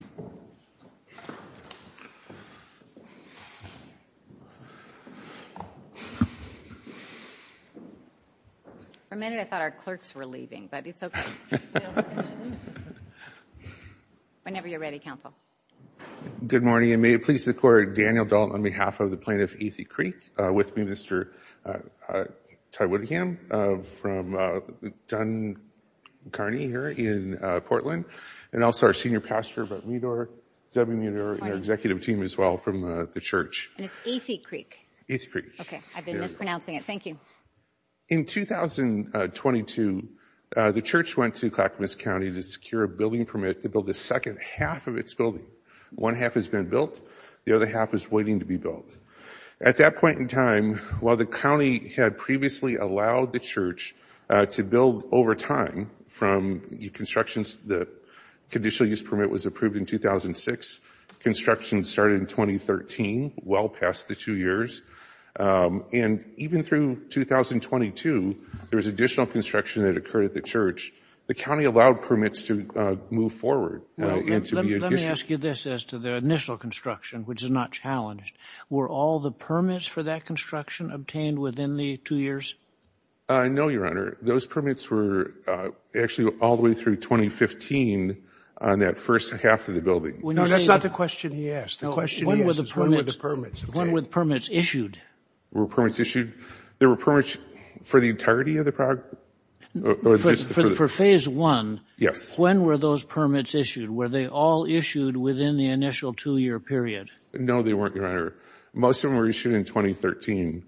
. For a minute I thought our clerks were leaving, but it's okay. Whenever you're ready, counsel. Good morning, and may it please the court, Daniel Dalton on behalf of the plaintiff Athey Creek, with me Mr. Ty Woodham from Dunn Kearney here in Portland, and also our senior pastor, Debbie Meador, and our executive team as well from the church. And it's Athey Creek. Athey Creek. Okay, I've been mispronouncing it. Thank you. In 2022, the church went to Clackamas County to secure a building permit to build the second half of its building. One half has been built, the other half is waiting to be built. At that point in time, while the county had previously allowed the church to build over time from the construction, the conditional use permit was approved in 2006, construction started in 2013, well past the two years. And even through 2022, there was additional construction that occurred at the church. The county allowed permits to move forward. Let me ask you this as to the initial construction, which is not challenged. Were all the permits for that construction obtained within the two years? No, Your Honor. Those permits were actually all the way through 2015 on that first half of the building. No, that's not the question he asked. The question he asked is when were the permits obtained? When were the permits issued? Were permits issued? There were permits for the entirety of the project? For phase one, when were those permits issued? Were they all issued within the initial two-year period? No, they weren't, Your Honor. Most of them were issued in 2013.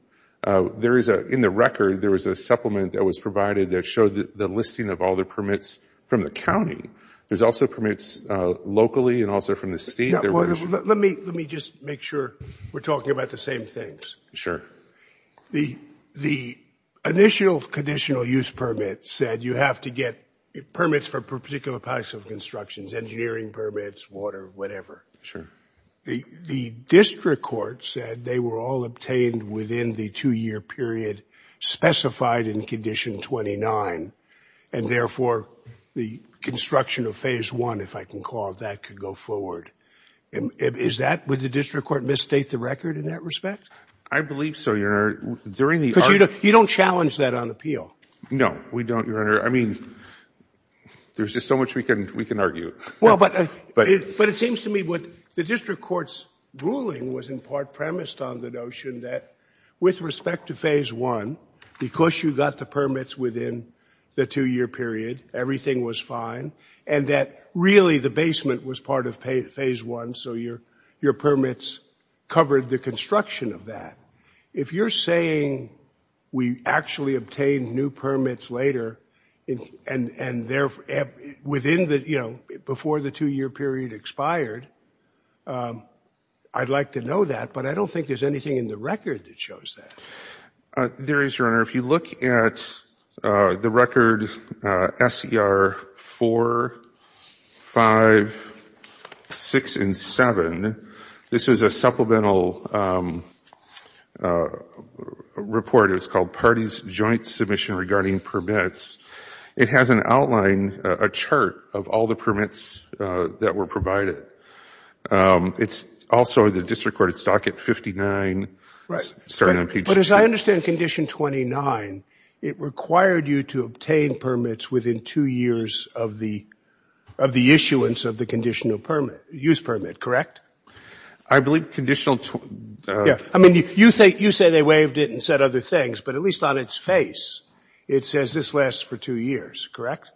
In the record, there was a supplement that was provided that showed the listing of all the permits from the county. There's also permits locally and also from the state. Let me just make sure we're talking about the same things. Sure. The initial conditional use permit said you have to get permits for particular types of constructions, engineering permits, water, whatever. The district court said they were all obtained within the two-year period specified in Condition 29, and therefore, the construction of phase one, if I can call it that, could go forward. Would the district court misstate the record in that respect? I believe so, Your Honor. During the argument... Because you don't challenge that on appeal. No, we don't, Your Honor. I mean, there's just so much we can argue. Well, but it seems to me what the district court's ruling was in part premised on the notion that with respect to phase one, because you got the permits within the two-year period, everything was fine, and that really the basement was part of phase one, so your permits covered the construction of that. If you're saying we actually obtained new permits later and within the, you know, before the two-year period expired, I'd like to know that, but I don't think there's anything in the record that shows that. There is, Your Honor. If you look at the record SCR 4, 5, 6, and 7, this is a supplemental report. It was called Parties Joint Submission Regarding Permits. It has an outline, a chart of all the permits that were provided. It's also the district court's docket 59. Right. But as I understand Condition 29, it required you to obtain permits within two years of the issuance of the conditional permit, use permit, correct? I believe Conditional... Yeah. I mean, you say they waived it and said other things, but at least on its face, it says this lasts for two years, correct?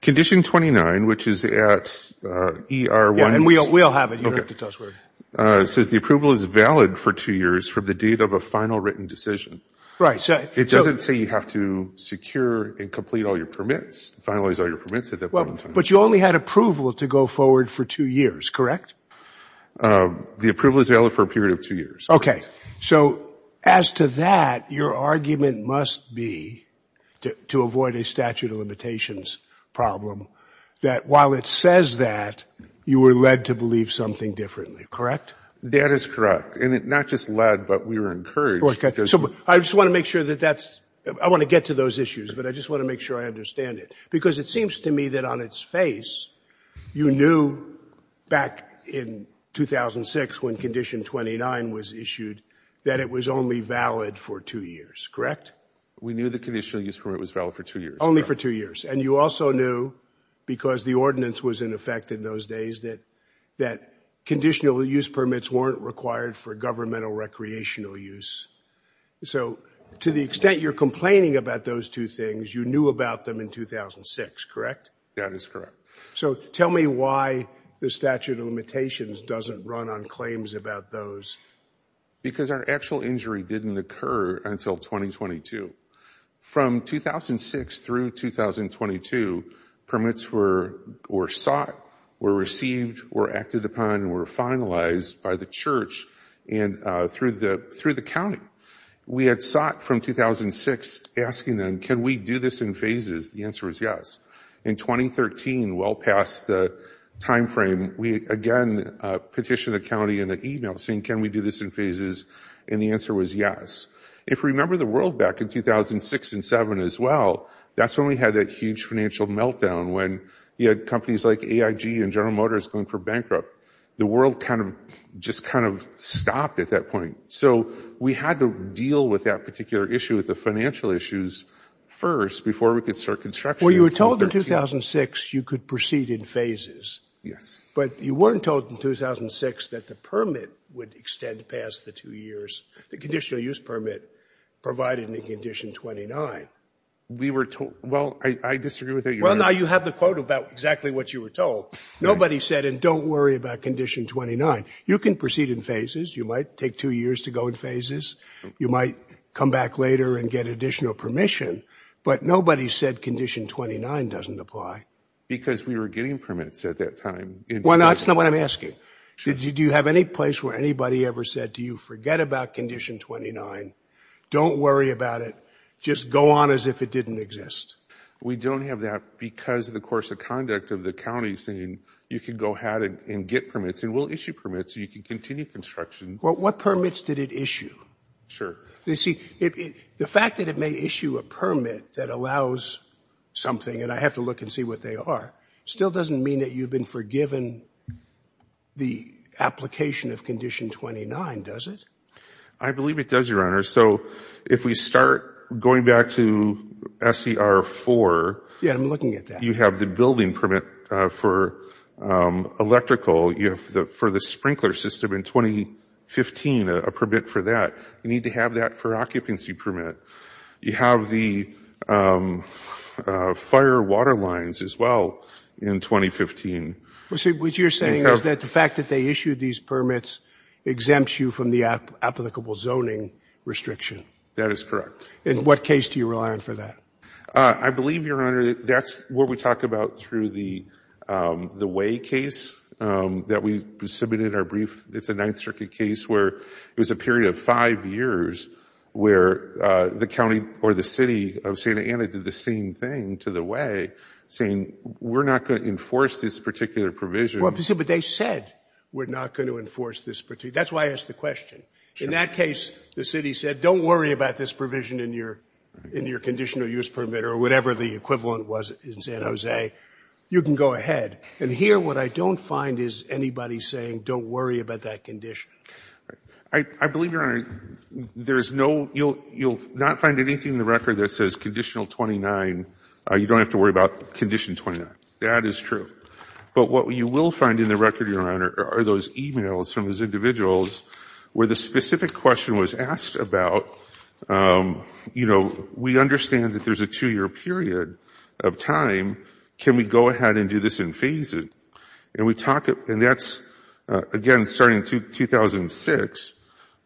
Condition 29, which is at ER 1... Yeah, and we'll have it. You don't have to tell us where it is. It says the approval is valid for two years from the date of a final written decision. It doesn't say you have to secure and complete all your permits, finalize all your permits at that point in time. But you only had approval to go forward for two years, correct? The approval is valid for a period of two years. Okay. So as to that, your argument must be, to avoid a statute of limitations problem, that while it says that, you were led to believe something differently, correct? That is correct. And not just led, but we were encouraged... Okay. So I just want to make sure that that's... I want to get to those issues, but I just want to make sure I understand it. Because it seems to me that on its face, you knew back in 2006 when Condition 29 was issued, that it was only valid for two years, correct? We knew the conditional use permit was valid for two years. Only for two years. And you also knew, because the ordinance was in effect in those days, that conditional use permits weren't required for governmental recreational use. So to the extent you're complaining about those two things, you knew about them in 2006, correct? That is correct. So tell me why the statute of limitations doesn't run on claims about those. Because our actual injury didn't occur until 2022. From 2006 through 2022, permits were sought, were received, were acted upon, and were finalized by the church and through the county. We had sought from 2006, asking them, can we do this in phases? The answer was yes. In 2013, well past the time frame, we again petitioned the county in an email saying, can we do this in phases? And the answer was yes. If you remember the world back in 2006 and 2007 as well, that's when we had that huge financial meltdown, when you had companies like AIG and General Motors going for bankrupt. The world kind of just kind of stopped at that point. So we had to deal with that particular issue, with the financial issues, first, before we could start construction. Well, you were told in 2006 you could proceed in phases. Yes. But you weren't told in 2006 that the permit would extend past the two years, the conditional use permit provided in Condition 29. We were told, well, I disagree with that. Well, now you have the quote about exactly what you were told. Nobody said, and don't worry about Condition 29. You can proceed in phases. You might take two years to go in phases. You might come back later and get additional permission. But nobody said Condition 29 doesn't apply. Because we were getting permits at that time. Well, that's not what I'm asking. Did you have any place where anybody ever said, do you forget about Condition 29? Don't worry about it. Just go on as if it didn't exist. We don't have that because of the course of conduct of the county saying you can go ahead and get permits. And we'll issue permits so you can continue construction. Well, what permits did it issue? Sure. You see, the fact that it may issue a permit that allows something, and I have to look and see what they are, still doesn't mean that you've been forgiven the application of Condition 29, does it? I believe it does, Your Honor. So if we start going back to SCR 4. Yeah, I'm looking at that. You have the building permit for electrical. You have for the sprinkler system in 2015 a permit for that. You need to have that for occupancy permit. You have the fire water lines as well in 2015. What you're saying is that the fact that they issued these permits exempts you from the applicable zoning restriction. That is correct. And what case do you rely on for that? I believe, Your Honor, that's what we talk about through the Way case that we submitted our brief. It's a Ninth Circuit case where it was a period of five years where the county or the city of Santa Ana did the same thing to the Way, saying we're not going to enforce this particular provision. But they said we're not going to enforce this. That's why I asked the question. In that case, the city said don't worry about this provision in your conditional use permit or whatever the equivalent was in San Jose. You can go ahead. And here what I don't find is anybody saying don't worry about that condition. I believe, Your Honor, there is no you'll not find anything in the record that says Conditional 29. You don't have to worry about Condition 29. That is true. But what you will find in the record, Your Honor, are those e-mails from those individuals where the specific question was asked about, you know, we understand that there's a two-year period of time. Can we go ahead and do this and phase it? And we talk, and that's, again, starting in 2006,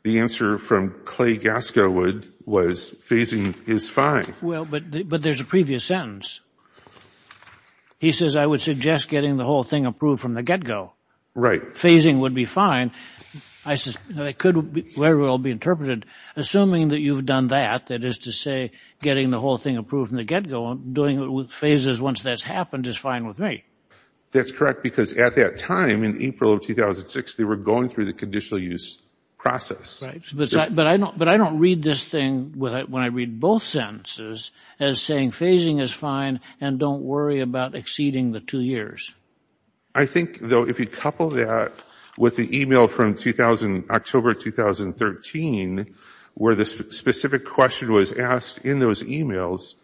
the answer from Clay Gascowood was phasing is fine. Well, but there's a previous sentence. He says I would suggest getting the whole thing approved from the get-go. Right. Phasing would be fine. I said it could very well be interpreted assuming that you've done that, that is to say getting the whole thing approved from the get-go and doing it with phases once that's happened is fine with me. That's correct because at that time in April of 2006, they were going through the conditional use process. But I don't read this thing when I read both sentences as saying phasing is fine and don't worry about exceeding the two years. I think, though, if you couple that with the e-mail from October 2013, where the specific question was asked in those e-mails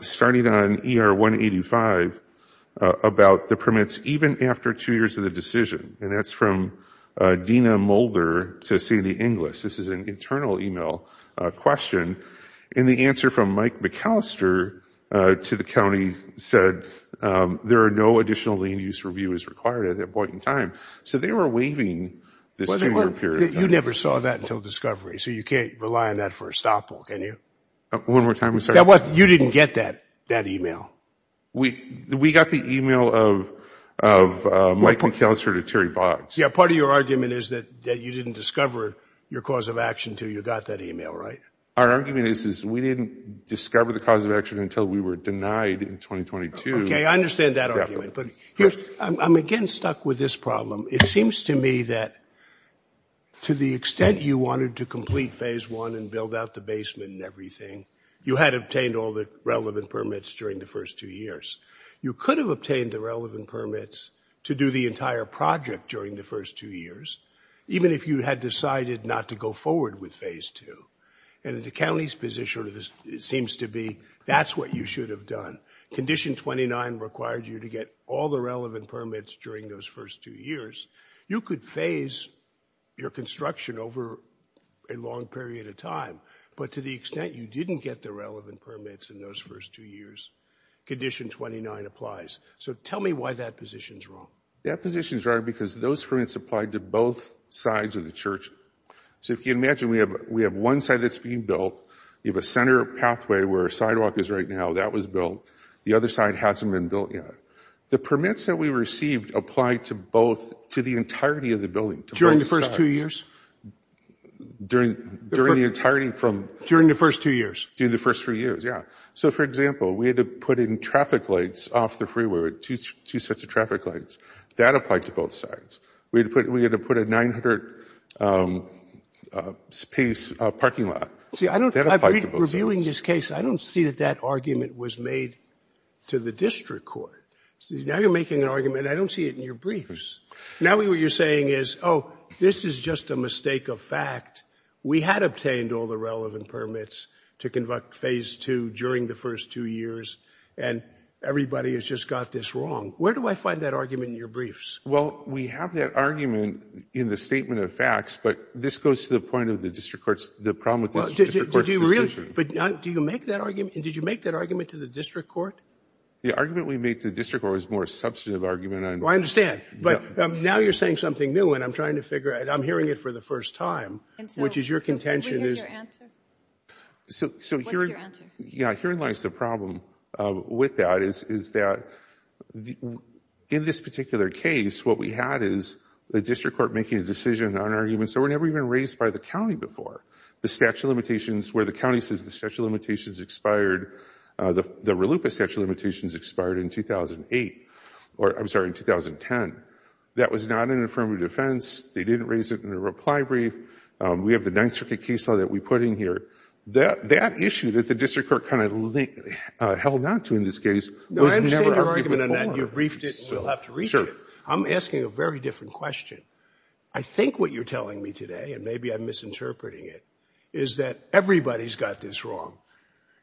starting on ER 185 about the permits even after two years of the decision, and that's from Dina Mulder to Cindy Inglis. This is an internal e-mail question. And the answer from Mike McAllister to the county said there are no additional land use review is required at that point in time. So they were waiving this two-year period. You never saw that until discovery, so you can't rely on that for a stoppable, can you? One more time. You didn't get that e-mail. We got the e-mail of Mike McAllister to Terry Boggs. Yeah. Part of your argument is that you didn't discover your cause of action until you got that e-mail, right? Our argument is we didn't discover the cause of action until we were denied in 2022. Okay. I understand that argument. But I'm, again, stuck with this problem. It seems to me that to the extent you wanted to complete Phase I and build out the basement and everything, you had obtained all the relevant permits during the first two years. You could have obtained the relevant permits to do the entire project during the first two years, even if you had decided not to go forward with Phase II. And the county's position seems to be that's what you should have done. Condition 29 required you to get all the relevant permits during those first two years. You could phase your construction over a long period of time. But to the extent you didn't get the relevant permits in those first two years, Condition 29 applies. So tell me why that position's wrong. That position's wrong because those permits applied to both sides of the church. So if you imagine we have one side that's being built. You have a center pathway where a sidewalk is right now. That was built. The other side hasn't been built yet. The permits that we received applied to both, to the entirety of the building. During the first two years? During the entirety from? During the first two years. During the first three years, yeah. So, for example, we had to put in traffic lights off the freeway, two sets of traffic lights. That applied to both sides. We had to put a 900-space parking lot. See, I don't, reviewing this case, I don't see that that argument was made to the district court. Now you're making an argument. I don't see it in your briefs. Now what you're saying is, oh, this is just a mistake of fact. We had obtained all the relevant permits to conduct Phase 2 during the first two years, and everybody has just got this wrong. Where do I find that argument in your briefs? Well, we have that argument in the statement of facts, but this goes to the point of the district court's, the problem with the district court's decision. But do you make that argument? Did you make that argument to the district court? The argument we made to the district court was a more substantive argument. Well, I understand. But now you're saying something new, and I'm trying to figure out, I'm hearing it for the first time, which is your contention is. Can we hear your answer? What's your answer? Yeah, herein lies the problem with that, is that in this particular case, what we had is the district court making a decision on an argument, so we're never even raised by the county before. The statute of limitations, where the county says the statute of limitations expired, the RLUIPA statute of limitations expired in 2008, or I'm sorry, in 2010. That was not an affirmative defense. They didn't raise it in a reply brief. We have the Ninth Circuit case law that we put in here. That issue that the district court kind of held on to in this case was never argued before. No, I understand your argument on that. You've briefed it, and we'll have to reach it. I'm asking a very different question. I think what you're telling me today, and maybe I'm misinterpreting it, is that everybody's got this wrong.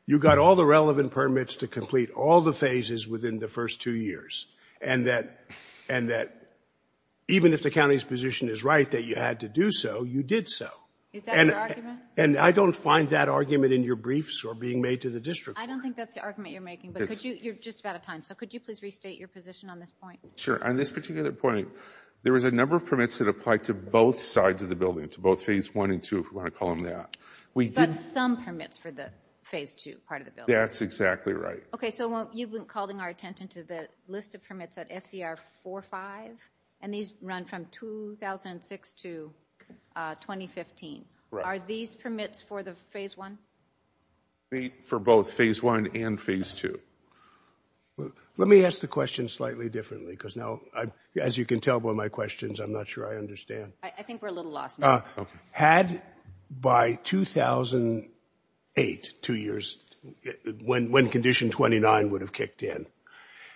You've got all the relevant permits to complete all the phases within the first two years, and that even if the county's position is right that you had to do so, you did so. Is that your argument? And I don't find that argument in your briefs or being made to the district court. I don't think that's the argument you're making, but you're just about out of time, so could you please restate your position on this point? Sure. On this particular point, there was a number of permits that applied to both sides of the building, to both phase one and two, if you want to call them that. But some permits for the phase two part of the building. That's exactly right. Okay, so you've been calling our attention to the list of permits at SER 45, and these run from 2006 to 2015. Are these permits for the phase one? Permits for both phase one and phase two. Let me ask the question slightly differently, because now, as you can tell by my questions, I'm not sure I understand. I think we're a little lost now. Had by 2008, two years, when condition 29 would have kicked in,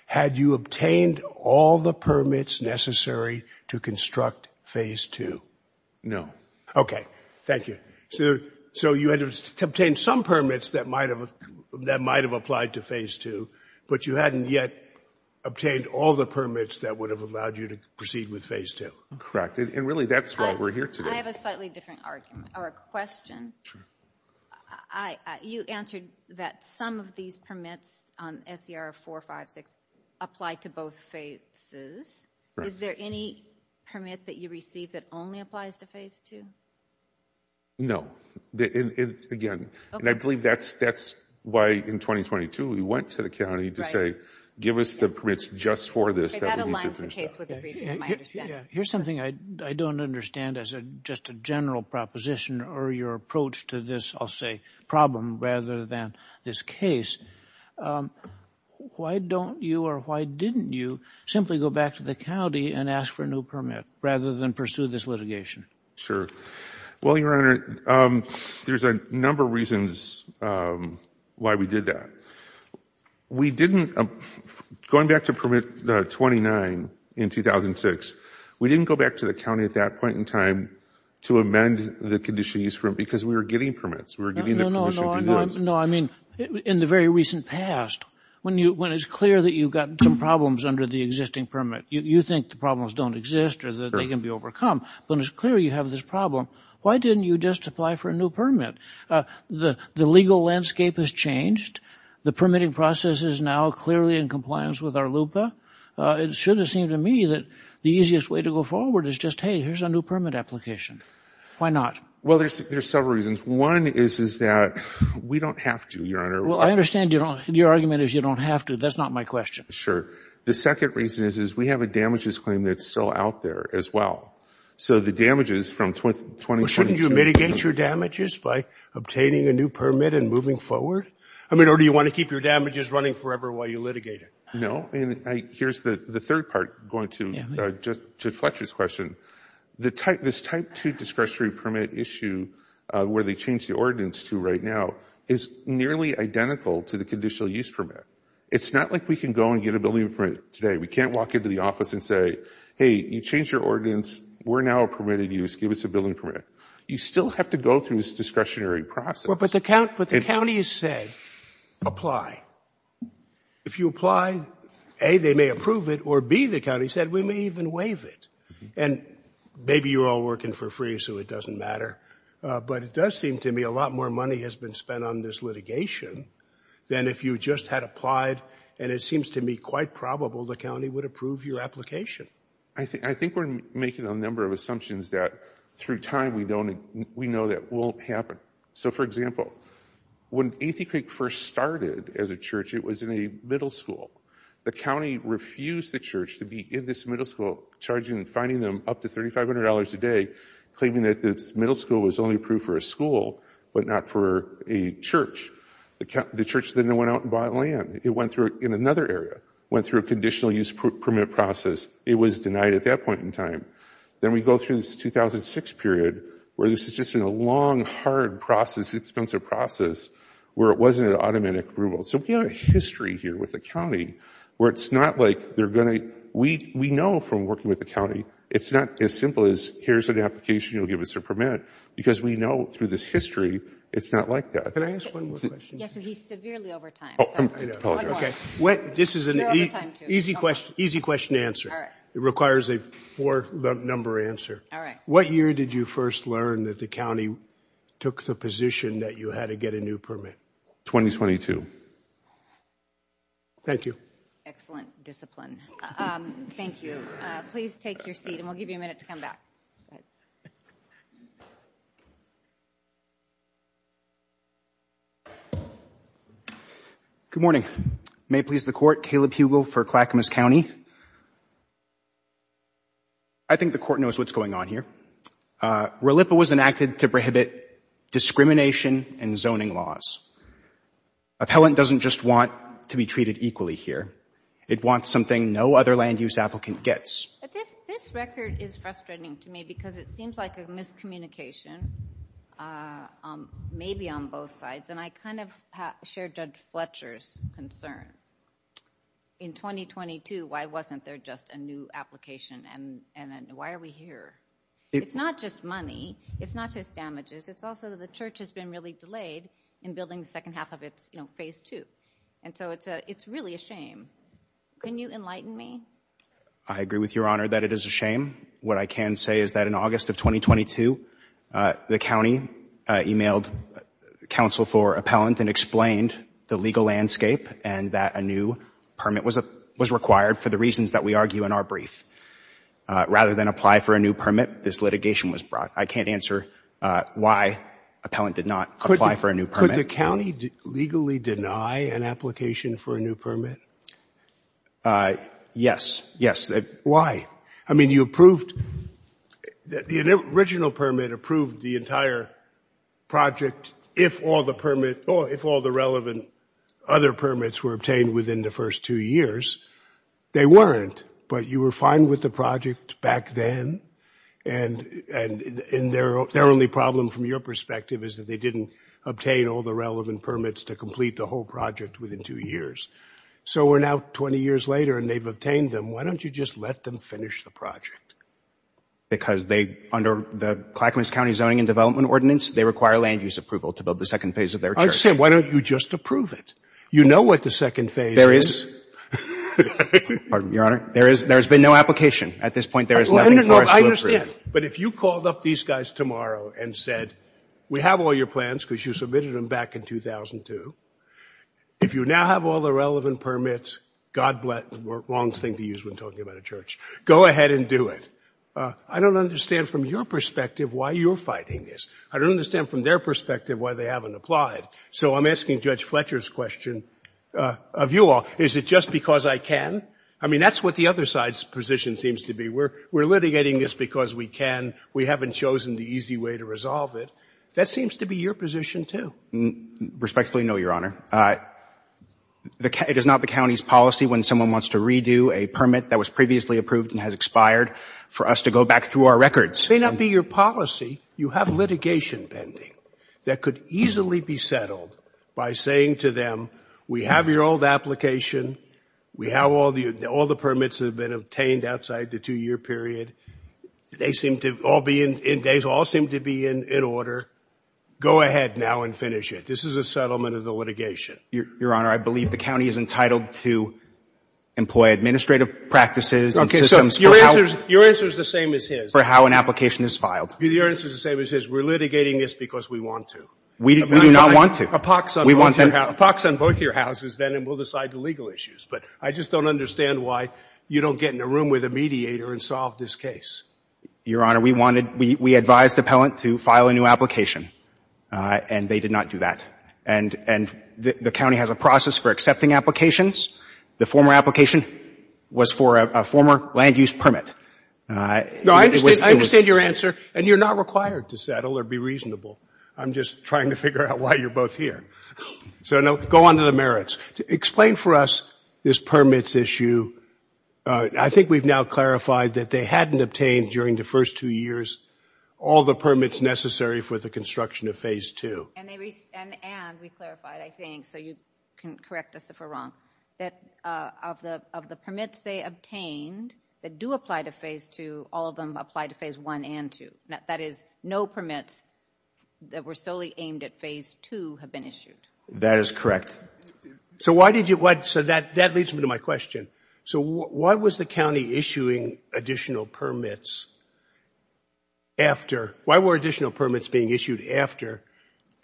had you obtained all the permits necessary to construct phase two? No. Okay. Thank you. So you had to obtain some permits that might have applied to phase two, but you hadn't yet obtained all the permits that would have allowed you to proceed with phase two. Correct. And really, that's why we're here today. I have a slightly different argument, or a question. Sure. You answered that some of these permits on SER 456 apply to both phases. Is there any permit that you received that only applies to phase two? No. Again, and I believe that's why, in 2022, we went to the county to say, give us the permits just for this. That aligns the case with the briefing, I understand. Yeah. Here's something I don't understand as just a general proposition, or your approach to this, I'll say, problem rather than this case. Why don't you, or why didn't you, simply go back to the county and ask for a new permit rather than pursue this litigation? Sure. Well, Your Honor, there's a number of reasons why we did that. We didn't, going back to Permit 29 in 2006, we didn't go back to the county at that point in time to amend the conditions because we were getting permits. We were getting the permission to do this. No, I mean, in the very recent past, when it's clear that you've got some problems under the existing permit, you think the problems don't exist or that they can be overcome, when it's clear you have this problem, why didn't you just apply for a new permit? The legal landscape has changed. The permitting process is now clearly in compliance with our LUPA. It should have seemed to me that the easiest way to go forward is just, hey, here's a new permit application. Why not? Well, there's several reasons. One is that we don't have to, Your Honor. Well, I understand your argument is you don't have to. That's not my question. Sure. The second reason is we have a damages claim that's still out there as well. So the damages from 2020- Well, shouldn't you mitigate your damages by obtaining a new permit and moving forward? I mean, or do you want to keep your damages running forever while you litigate it? No. And here's the third part going to Fletcher's question. This Type 2 discretionary permit issue where they changed the ordinance to right now is nearly identical to the conditional use permit. It's not like we can go and get a building permit today. We can't walk into the office and say, hey, you changed your ordinance. We're now a permitted use. Give us a building permit. You still have to go through this discretionary process. But the county has said, apply. If you apply, A, they may approve it, or B, the county said, we may even waive it. And maybe you're all working for free, so it doesn't matter. But it does seem to me a lot more money has been spent on this litigation than if you just had applied, and it seems to me quite probable the county would approve your application. I think we're making a number of assumptions that through time we know that won't happen. So, for example, when Athey Creek first started as a church, it was in a middle school. The county refused the church to be in this middle school, charging and fining them up to $3,500 a day, claiming that this middle school was only approved for a school but not for a church. The church then went out and bought land. It went through in another area, went through a conditional use permit process. It was denied at that point in time. Then we go through this 2006 period, where this is just a long, hard process, expensive process, where it wasn't an automatic approval. So we have a history here with the county where it's not like they're going to – we know from working with the county it's not as simple as here's an application, you'll give us a permit, because we know through this history it's not like that. Can I ask one more question? Yes, because he's severely over time. Oh, I know. One more. You're over time, too. Easy question to answer. It requires a four-number answer. All right. What year did you first learn that the county took the position that you had to get a new permit? 2022. Thank you. Excellent discipline. Thank you. Please take your seat, and we'll give you a minute to come back. Good morning. May it please the Court, Caleb Hugel for Clackamas County. I think the Court knows what's going on here. RLIPA was enacted to prohibit discrimination in zoning laws. Appellant doesn't just want to be treated equally here. It wants something no other land-use applicant gets. This record is frustrating to me because it seems like a miscommunication, maybe on both sides, and I kind of share Judge Fletcher's concern. In 2022, why wasn't there just a new application, and why are we here? It's not just money. It's not just damages. It's also that the church has been really delayed in building the second half of its, you know, Phase 2. And so it's really a shame. Can you enlighten me? I agree with Your Honor that it is a shame. What I can say is that in August of 2022, the county emailed counsel for appellant and explained the legal landscape and that a new permit was required for the reasons that we argue in our brief. Rather than apply for a new permit, this litigation was brought. I can't answer why appellant did not apply for a new permit. Could the county legally deny an application for a new permit? Yes, yes. Why? I mean, you approved the original permit, approved the entire project, if all the relevant other permits were obtained within the first two years. They weren't, but you were fine with the project back then, and their only problem from your perspective is that they didn't obtain all the relevant permits to complete the whole project within two years. So we're now 20 years later, and they've obtained them. Why don't you just let them finish the project? Because they, under the Clackamas County Zoning and Development Ordinance, they require land use approval to build the second phase of their church. Why don't you just approve it? You know what the second phase is. There is. Pardon me, Your Honor. There has been no application. At this point, there is nothing for us to approve. I understand, but if you called up these guys tomorrow and said, we have all your plans because you submitted them back in 2002. If you now have all the relevant permits, God bless. Wrong thing to use when talking about a church. Go ahead and do it. I don't understand from your perspective why you're fighting this. I don't understand from their perspective why they haven't applied. So I'm asking Judge Fletcher's question of you all. Is it just because I can? I mean, that's what the other side's position seems to be. We're litigating this because we can. We haven't chosen the easy way to resolve it. That seems to be your position, too. Respectfully, no, Your Honor. It is not the county's policy when someone wants to redo a permit that was previously approved and has expired for us to go back through our records. It may not be your policy. You have litigation pending that could easily be settled by saying to them, we have your old application. We have all the permits that have been obtained outside the two-year period. They all seem to be in order. Go ahead now and finish it. This is a settlement of the litigation. Your Honor, I believe the county is entitled to employ administrative practices and systems for how an application is filed. Your answer is the same as his. Your answer is the same as his. We're litigating this because we want to. We do not want to. A pox on both your houses, then, and we'll decide the legal issues. But I just don't understand why you don't get in a room with a mediator and solve this case. Your Honor, we wanted, we advised appellant to file a new application, and they did not do that. And the county has a process for accepting applications. The former application was for a former land-use permit. No, I understand your answer, and you're not required to settle or be reasonable. I'm just trying to figure out why you're both here. So, no, go on to the merits. Explain for us this permits issue. I think we've now clarified that they hadn't obtained during the first two years all the permits necessary for the construction of Phase 2. And we clarified, I think, so you can correct us if we're wrong, that of the permits they obtained that do apply to Phase 2, all of them apply to Phase 1 and 2. That is, no permits that were solely aimed at Phase 2 have been issued. That is correct. So why did you, so that leads me to my question. So why was the county issuing additional permits after, why were additional permits being issued after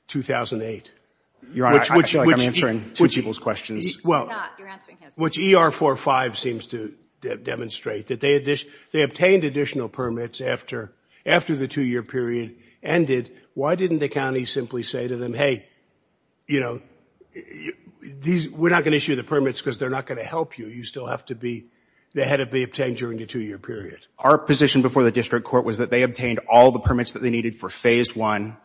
2008? Your Honor, I feel like I'm answering two people's questions. You're not, you're answering his. Which ER45 seems to demonstrate that they obtained additional permits after the two-year period ended. Why didn't the county simply say to them, hey, you know, we're not going to issue the permits because they're not going to help you. You still have to be, they had to be obtained during the two-year period. Our position before the district court was that they obtained all the permits that they needed for Phase 1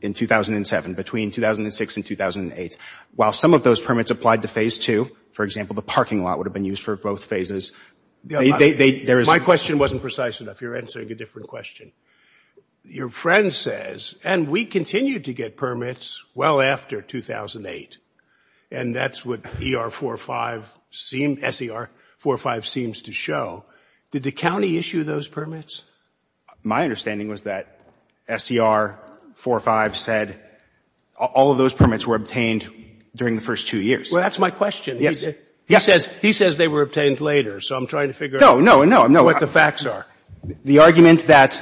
in 2007, between 2006 and 2008. While some of those permits applied to Phase 2, for example, the parking lot would have been used for both phases. My question wasn't precise enough. You're answering a different question. Your friend says, and we continued to get permits well after 2008, and that's what ER45 seemed, SER45 seems to show. Did the county issue those permits? My understanding was that SER45 said all of those permits were obtained during the first two years. Well, that's my question. Yes. He says they were obtained later, so I'm trying to figure out what the facts are. The argument that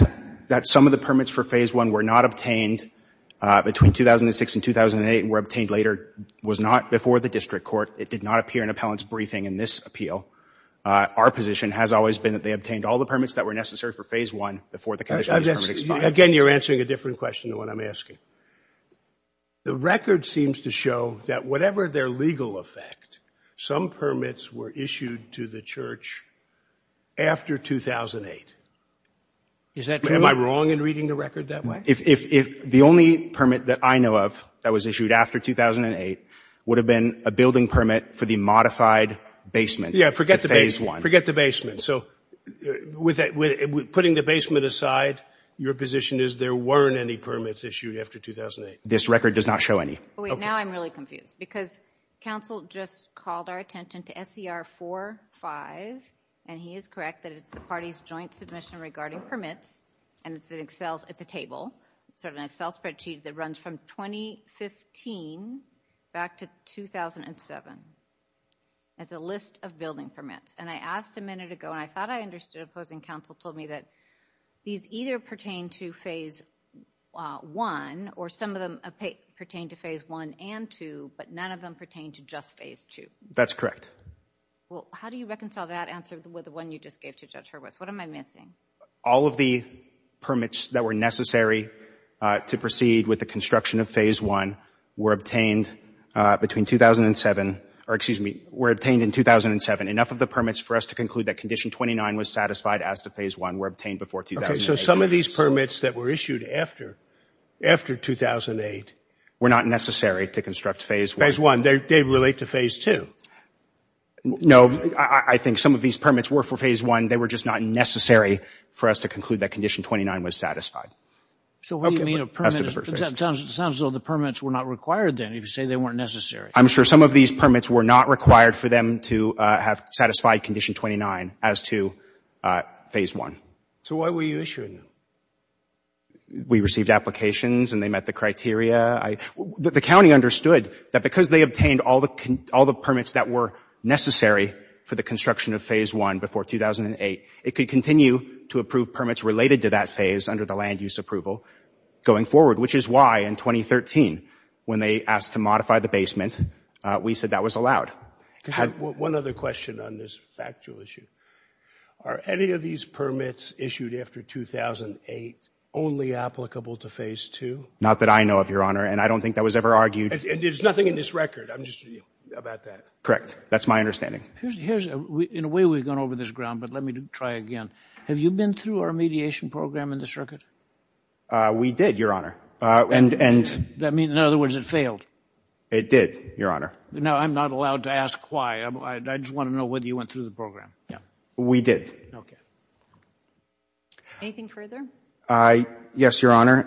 some of the permits for Phase 1 were not obtained between 2006 and 2008 and were obtained later was not before the district court. It did not appear in appellant's briefing in this appeal. Our position has always been that they obtained all the permits that were necessary for Phase 1 before the conditions expired. Again, you're answering a different question than what I'm asking. The record seems to show that whatever their legal effect, some permits were issued to the church after 2008. Is that true? Am I wrong in reading the record that way? The only permit that I know of that was issued after 2008 would have been a building permit for the modified basement for Phase 1. Yes, forget the basement. So putting the basement aside, your position is there weren't any permits issued after 2008? This record does not show any. Now I'm really confused because counsel just called our attention to SCR 4-5, and he is correct that it's the party's joint submission regarding permits, and it's a table, sort of an Excel spreadsheet that runs from 2015 back to 2007. It's a list of building permits, and I asked a minute ago, and I thought I understood opposing counsel told me that these either pertain to Phase 1 or some of them pertain to Phase 1 and 2, but none of them pertain to just Phase 2. That's correct. Well, how do you reconcile that answer with the one you just gave to Judge Hurwitz? What am I missing? All of the permits that were necessary to proceed with the construction of Phase 1 were obtained between 2007 or, excuse me, were obtained in 2007. Enough of the permits for us to conclude that Condition 29 was satisfied as to Phase 1 were obtained before 2008. So some of these permits that were issued after 2008 were not necessary to construct Phase 1. They relate to Phase 2. No. I think some of these permits were for Phase 1. They were just not necessary for us to conclude that Condition 29 was satisfied. So what do you mean a permit? It sounds as though the permits were not required then. You say they weren't necessary. I'm sure some of these permits were not required for them to have satisfied Condition 29 as to Phase 1. So why were you issuing them? We received applications and they met the criteria. The county understood that because they obtained all the permits that were necessary for the construction of Phase 1 before 2008, it could continue to approve permits related to that phase under the land use approval going forward, which is why in 2013 when they asked to modify the basement, we said that was allowed. One other question on this factual issue. Are any of these permits issued after 2008 only applicable to Phase 2? Not that I know of, Your Honor, and I don't think that was ever argued. And there's nothing in this record about that? Correct. That's my understanding. In a way, we've gone over this ground, but let me try again. Have you been through our mediation program in the circuit? We did, Your Honor. That means, in other words, it failed? It did, Your Honor. No, I'm not allowed to ask why. I just want to know whether you went through the program. We did. Anything further? Yes, Your Honor.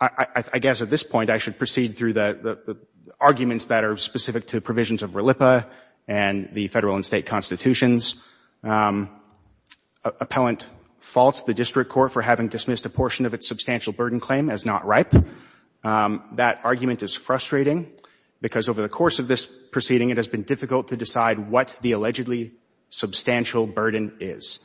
I guess at this point I should proceed through the arguments that are specific to the provisions of RLIPA and the Federal and State Constitutions. Appellant faults the District Court for having dismissed a portion of its substantial burden claim as not ripe. That argument is frustrating because over the course of this proceeding, it has been difficult to decide what the allegedly substantial burden is.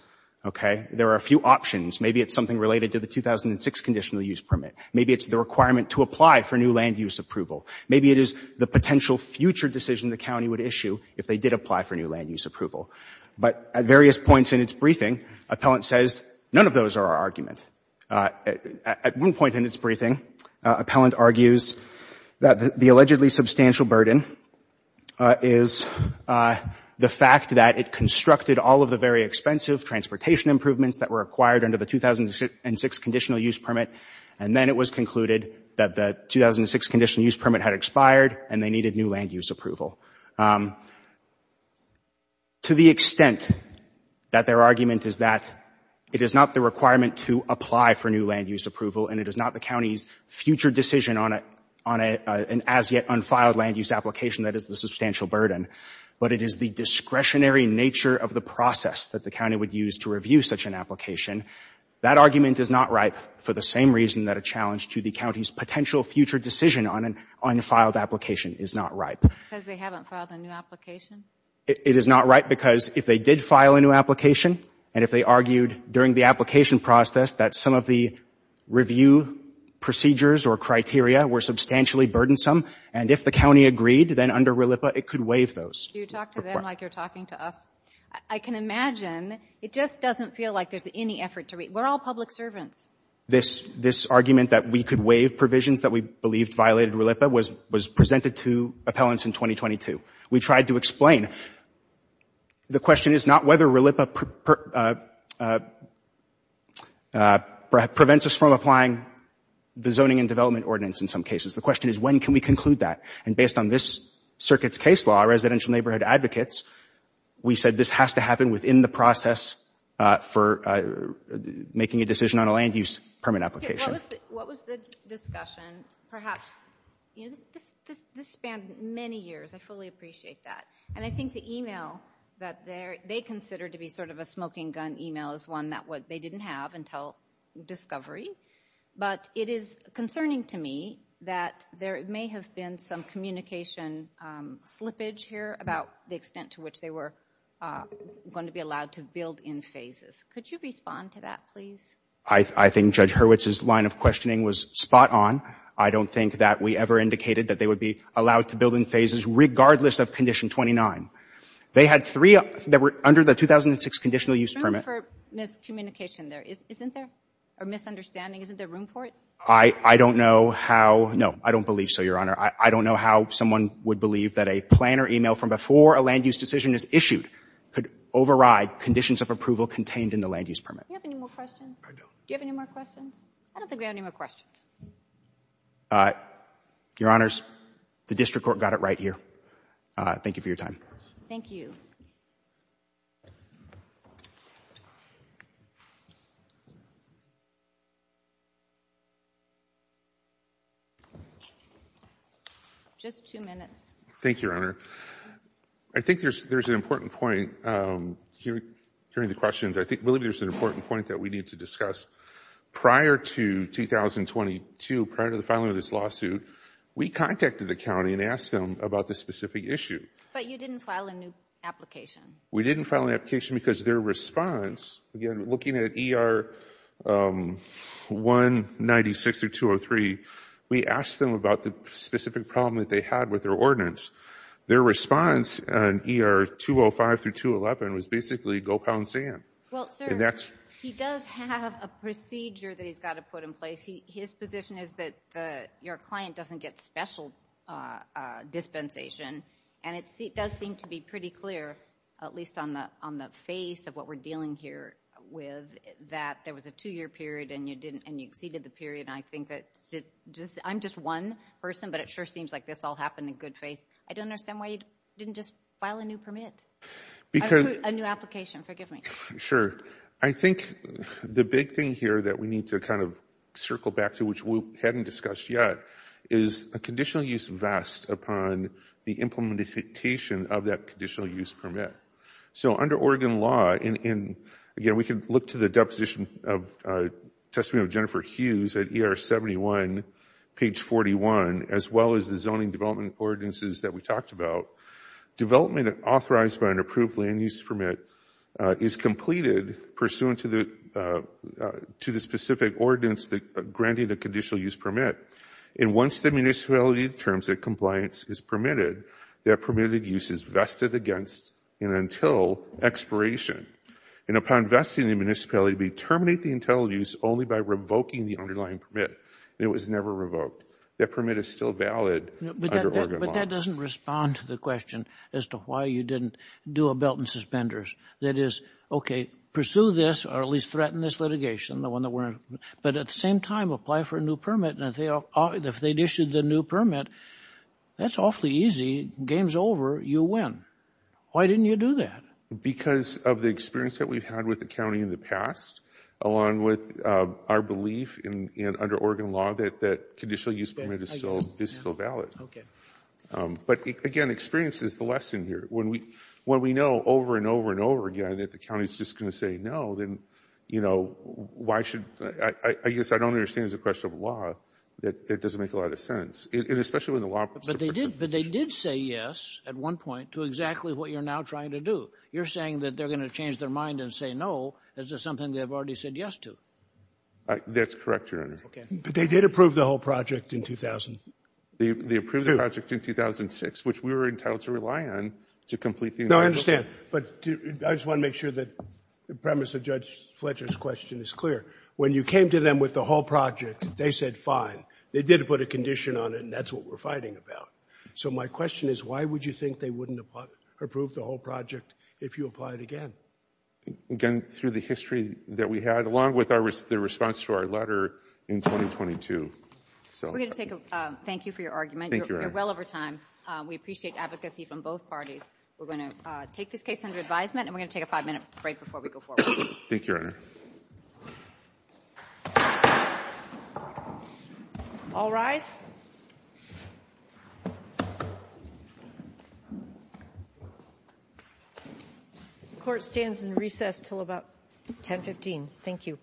Okay? There are a few options. Maybe it's something related to the 2006 Conditional Use Permit. Maybe it's the requirement to apply for new land use approval. Maybe it is the potential future decision the County would issue if they did apply for new land use approval. But at various points in its briefing, Appellant says none of those are our argument. At one point in its briefing, Appellant argues that the allegedly substantial burden is the fact that it constructed all of the very expensive transportation improvements that were acquired under the 2006 Conditional Use Permit, and then it was concluded that the 2006 Conditional Use Permit had expired and they needed new land use approval. To the extent that their argument is that it is not the requirement to apply for new land use approval and it is not the County's future decision on an as-yet-unfiled land use application that is the substantial burden, but it is the discretionary nature of the process that the County would use to review such an application, that argument is not ripe for the same reason that a challenge to the County's potential future decision on an unfiled application is not ripe. Because they haven't filed a new application? It is not ripe because if they did file a new application and if they argued during the application process that some of the review procedures or criteria were substantially burdensome, and if the County agreed, then under RLIPA it could waive those. Do you talk to them like you're talking to us? I can imagine. It just doesn't feel like there's any effort to read. We're all public servants. This argument that we could waive provisions that we believed violated RLIPA was presented to appellants in 2022. We tried to explain. The question is not whether RLIPA prevents us from applying the Zoning and Development Ordinance in some cases. The question is when can we conclude that? And based on this Circuit's case law, Residential Neighborhood Advocates, we said this has to happen within the process for making a decision on a land use permit application. What was the discussion? Perhaps this spanned many years. I fully appreciate that. And I think the email that they considered to be sort of a smoking gun email is one that they didn't have until discovery. But it is concerning to me that there may have been some communication slippage here about the extent to which they were going to be allowed to build in phases. Could you respond to that, please? I think Judge Hurwitz's line of questioning was spot on. I don't think that we ever indicated that they would be allowed to build in phases, regardless of Condition 29. They had three that were under the 2006 Conditional Use Permit. I'm sorry for miscommunication there. Isn't there? Or misunderstanding? Isn't there room for it? I don't know how. No, I don't believe so, Your Honor. I don't know how someone would believe that a planner email from before a land use decision is issued could override conditions of approval contained in the land use permit. Do you have any more questions? I don't. Do you have any more questions? I don't think we have any more questions. Your Honors, the District Court got it right here. Thank you for your time. Thank you. Thank you. Just two minutes. Thank you, Your Honor. I think there's an important point, hearing the questions, I believe there's an important point that we need to discuss. Prior to 2022, prior to the filing of this lawsuit, we contacted the county and asked them about this specific issue. But you didn't file a new application. We didn't file an application because their response, again, looking at ER 196 through 203, we asked them about the specific problem that they had with their ordinance. Their response on ER 205 through 211 was basically go pound sand. Well, sir, he does have a procedure that he's got to put in place. His position is that your client doesn't get special dispensation, and it does seem to be pretty clear, at least on the face of what we're dealing here with, that there was a two-year period and you exceeded the period. I'm just one person, but it sure seems like this all happened in good faith. I don't understand why you didn't just file a new permit, a new application. Forgive me. Sure. I think the big thing here that we need to kind of circle back to, which we hadn't discussed yet, is a conditional use vest upon the implementation of that conditional use permit. So under Oregon law, and again, we can look to the deposition of testimony of Jennifer Hughes at ER 71, page 41, as well as the zoning development ordinances that we talked about, development authorized by an approved land use permit is completed pursuant to the specific ordinance granting the conditional use permit. And once the municipality determines that compliance is permitted, that permitted use is vested against and until expiration. And upon vesting the municipality, we terminate the intended use only by revoking the underlying permit. It was never revoked. That permit is still valid under Oregon law. But that doesn't respond to the question as to why you didn't do a belt and suspenders. That is, okay, pursue this or at least threaten this litigation, the one that we're in. But at the same time, apply for a new permit. And if they'd issued the new permit, that's awfully easy. Game's over. You win. Why didn't you do that? Because of the experience that we've had with the county in the past, along with our belief under Oregon law that the conditional use permit is still valid. Okay. But again, experience is the lesson here. When we know over and over and over again that the county is just going to say no, then, you know, why should – I guess I don't understand the question of law. It doesn't make a lot of sense. And especially when the law – But they did say yes at one point to exactly what you're now trying to do. You're saying that they're going to change their mind and say no. Is this something they've already said yes to? That's correct, Your Honor. Okay. But they did approve the whole project in 2000. They approved the project in 2006, which we were entitled to rely on to complete the – No, I understand. But I just want to make sure that the premise of Judge Fletcher's question is clear. When you came to them with the whole project, they said fine. They did put a condition on it, and that's what we're fighting about. So my question is, why would you think they wouldn't approve the whole project if you apply it again? Again, through the history that we had, along with the response to our letter in 2022. We're going to take a – thank you for your argument. Thank you, Your Honor. You're well over time. We appreciate advocacy from both parties. We're going to take this case under advisement, and we're going to take a five-minute break before we go forward. Thank you, Your Honor. All rise. The court stands in recess until about 10.15. Thank you.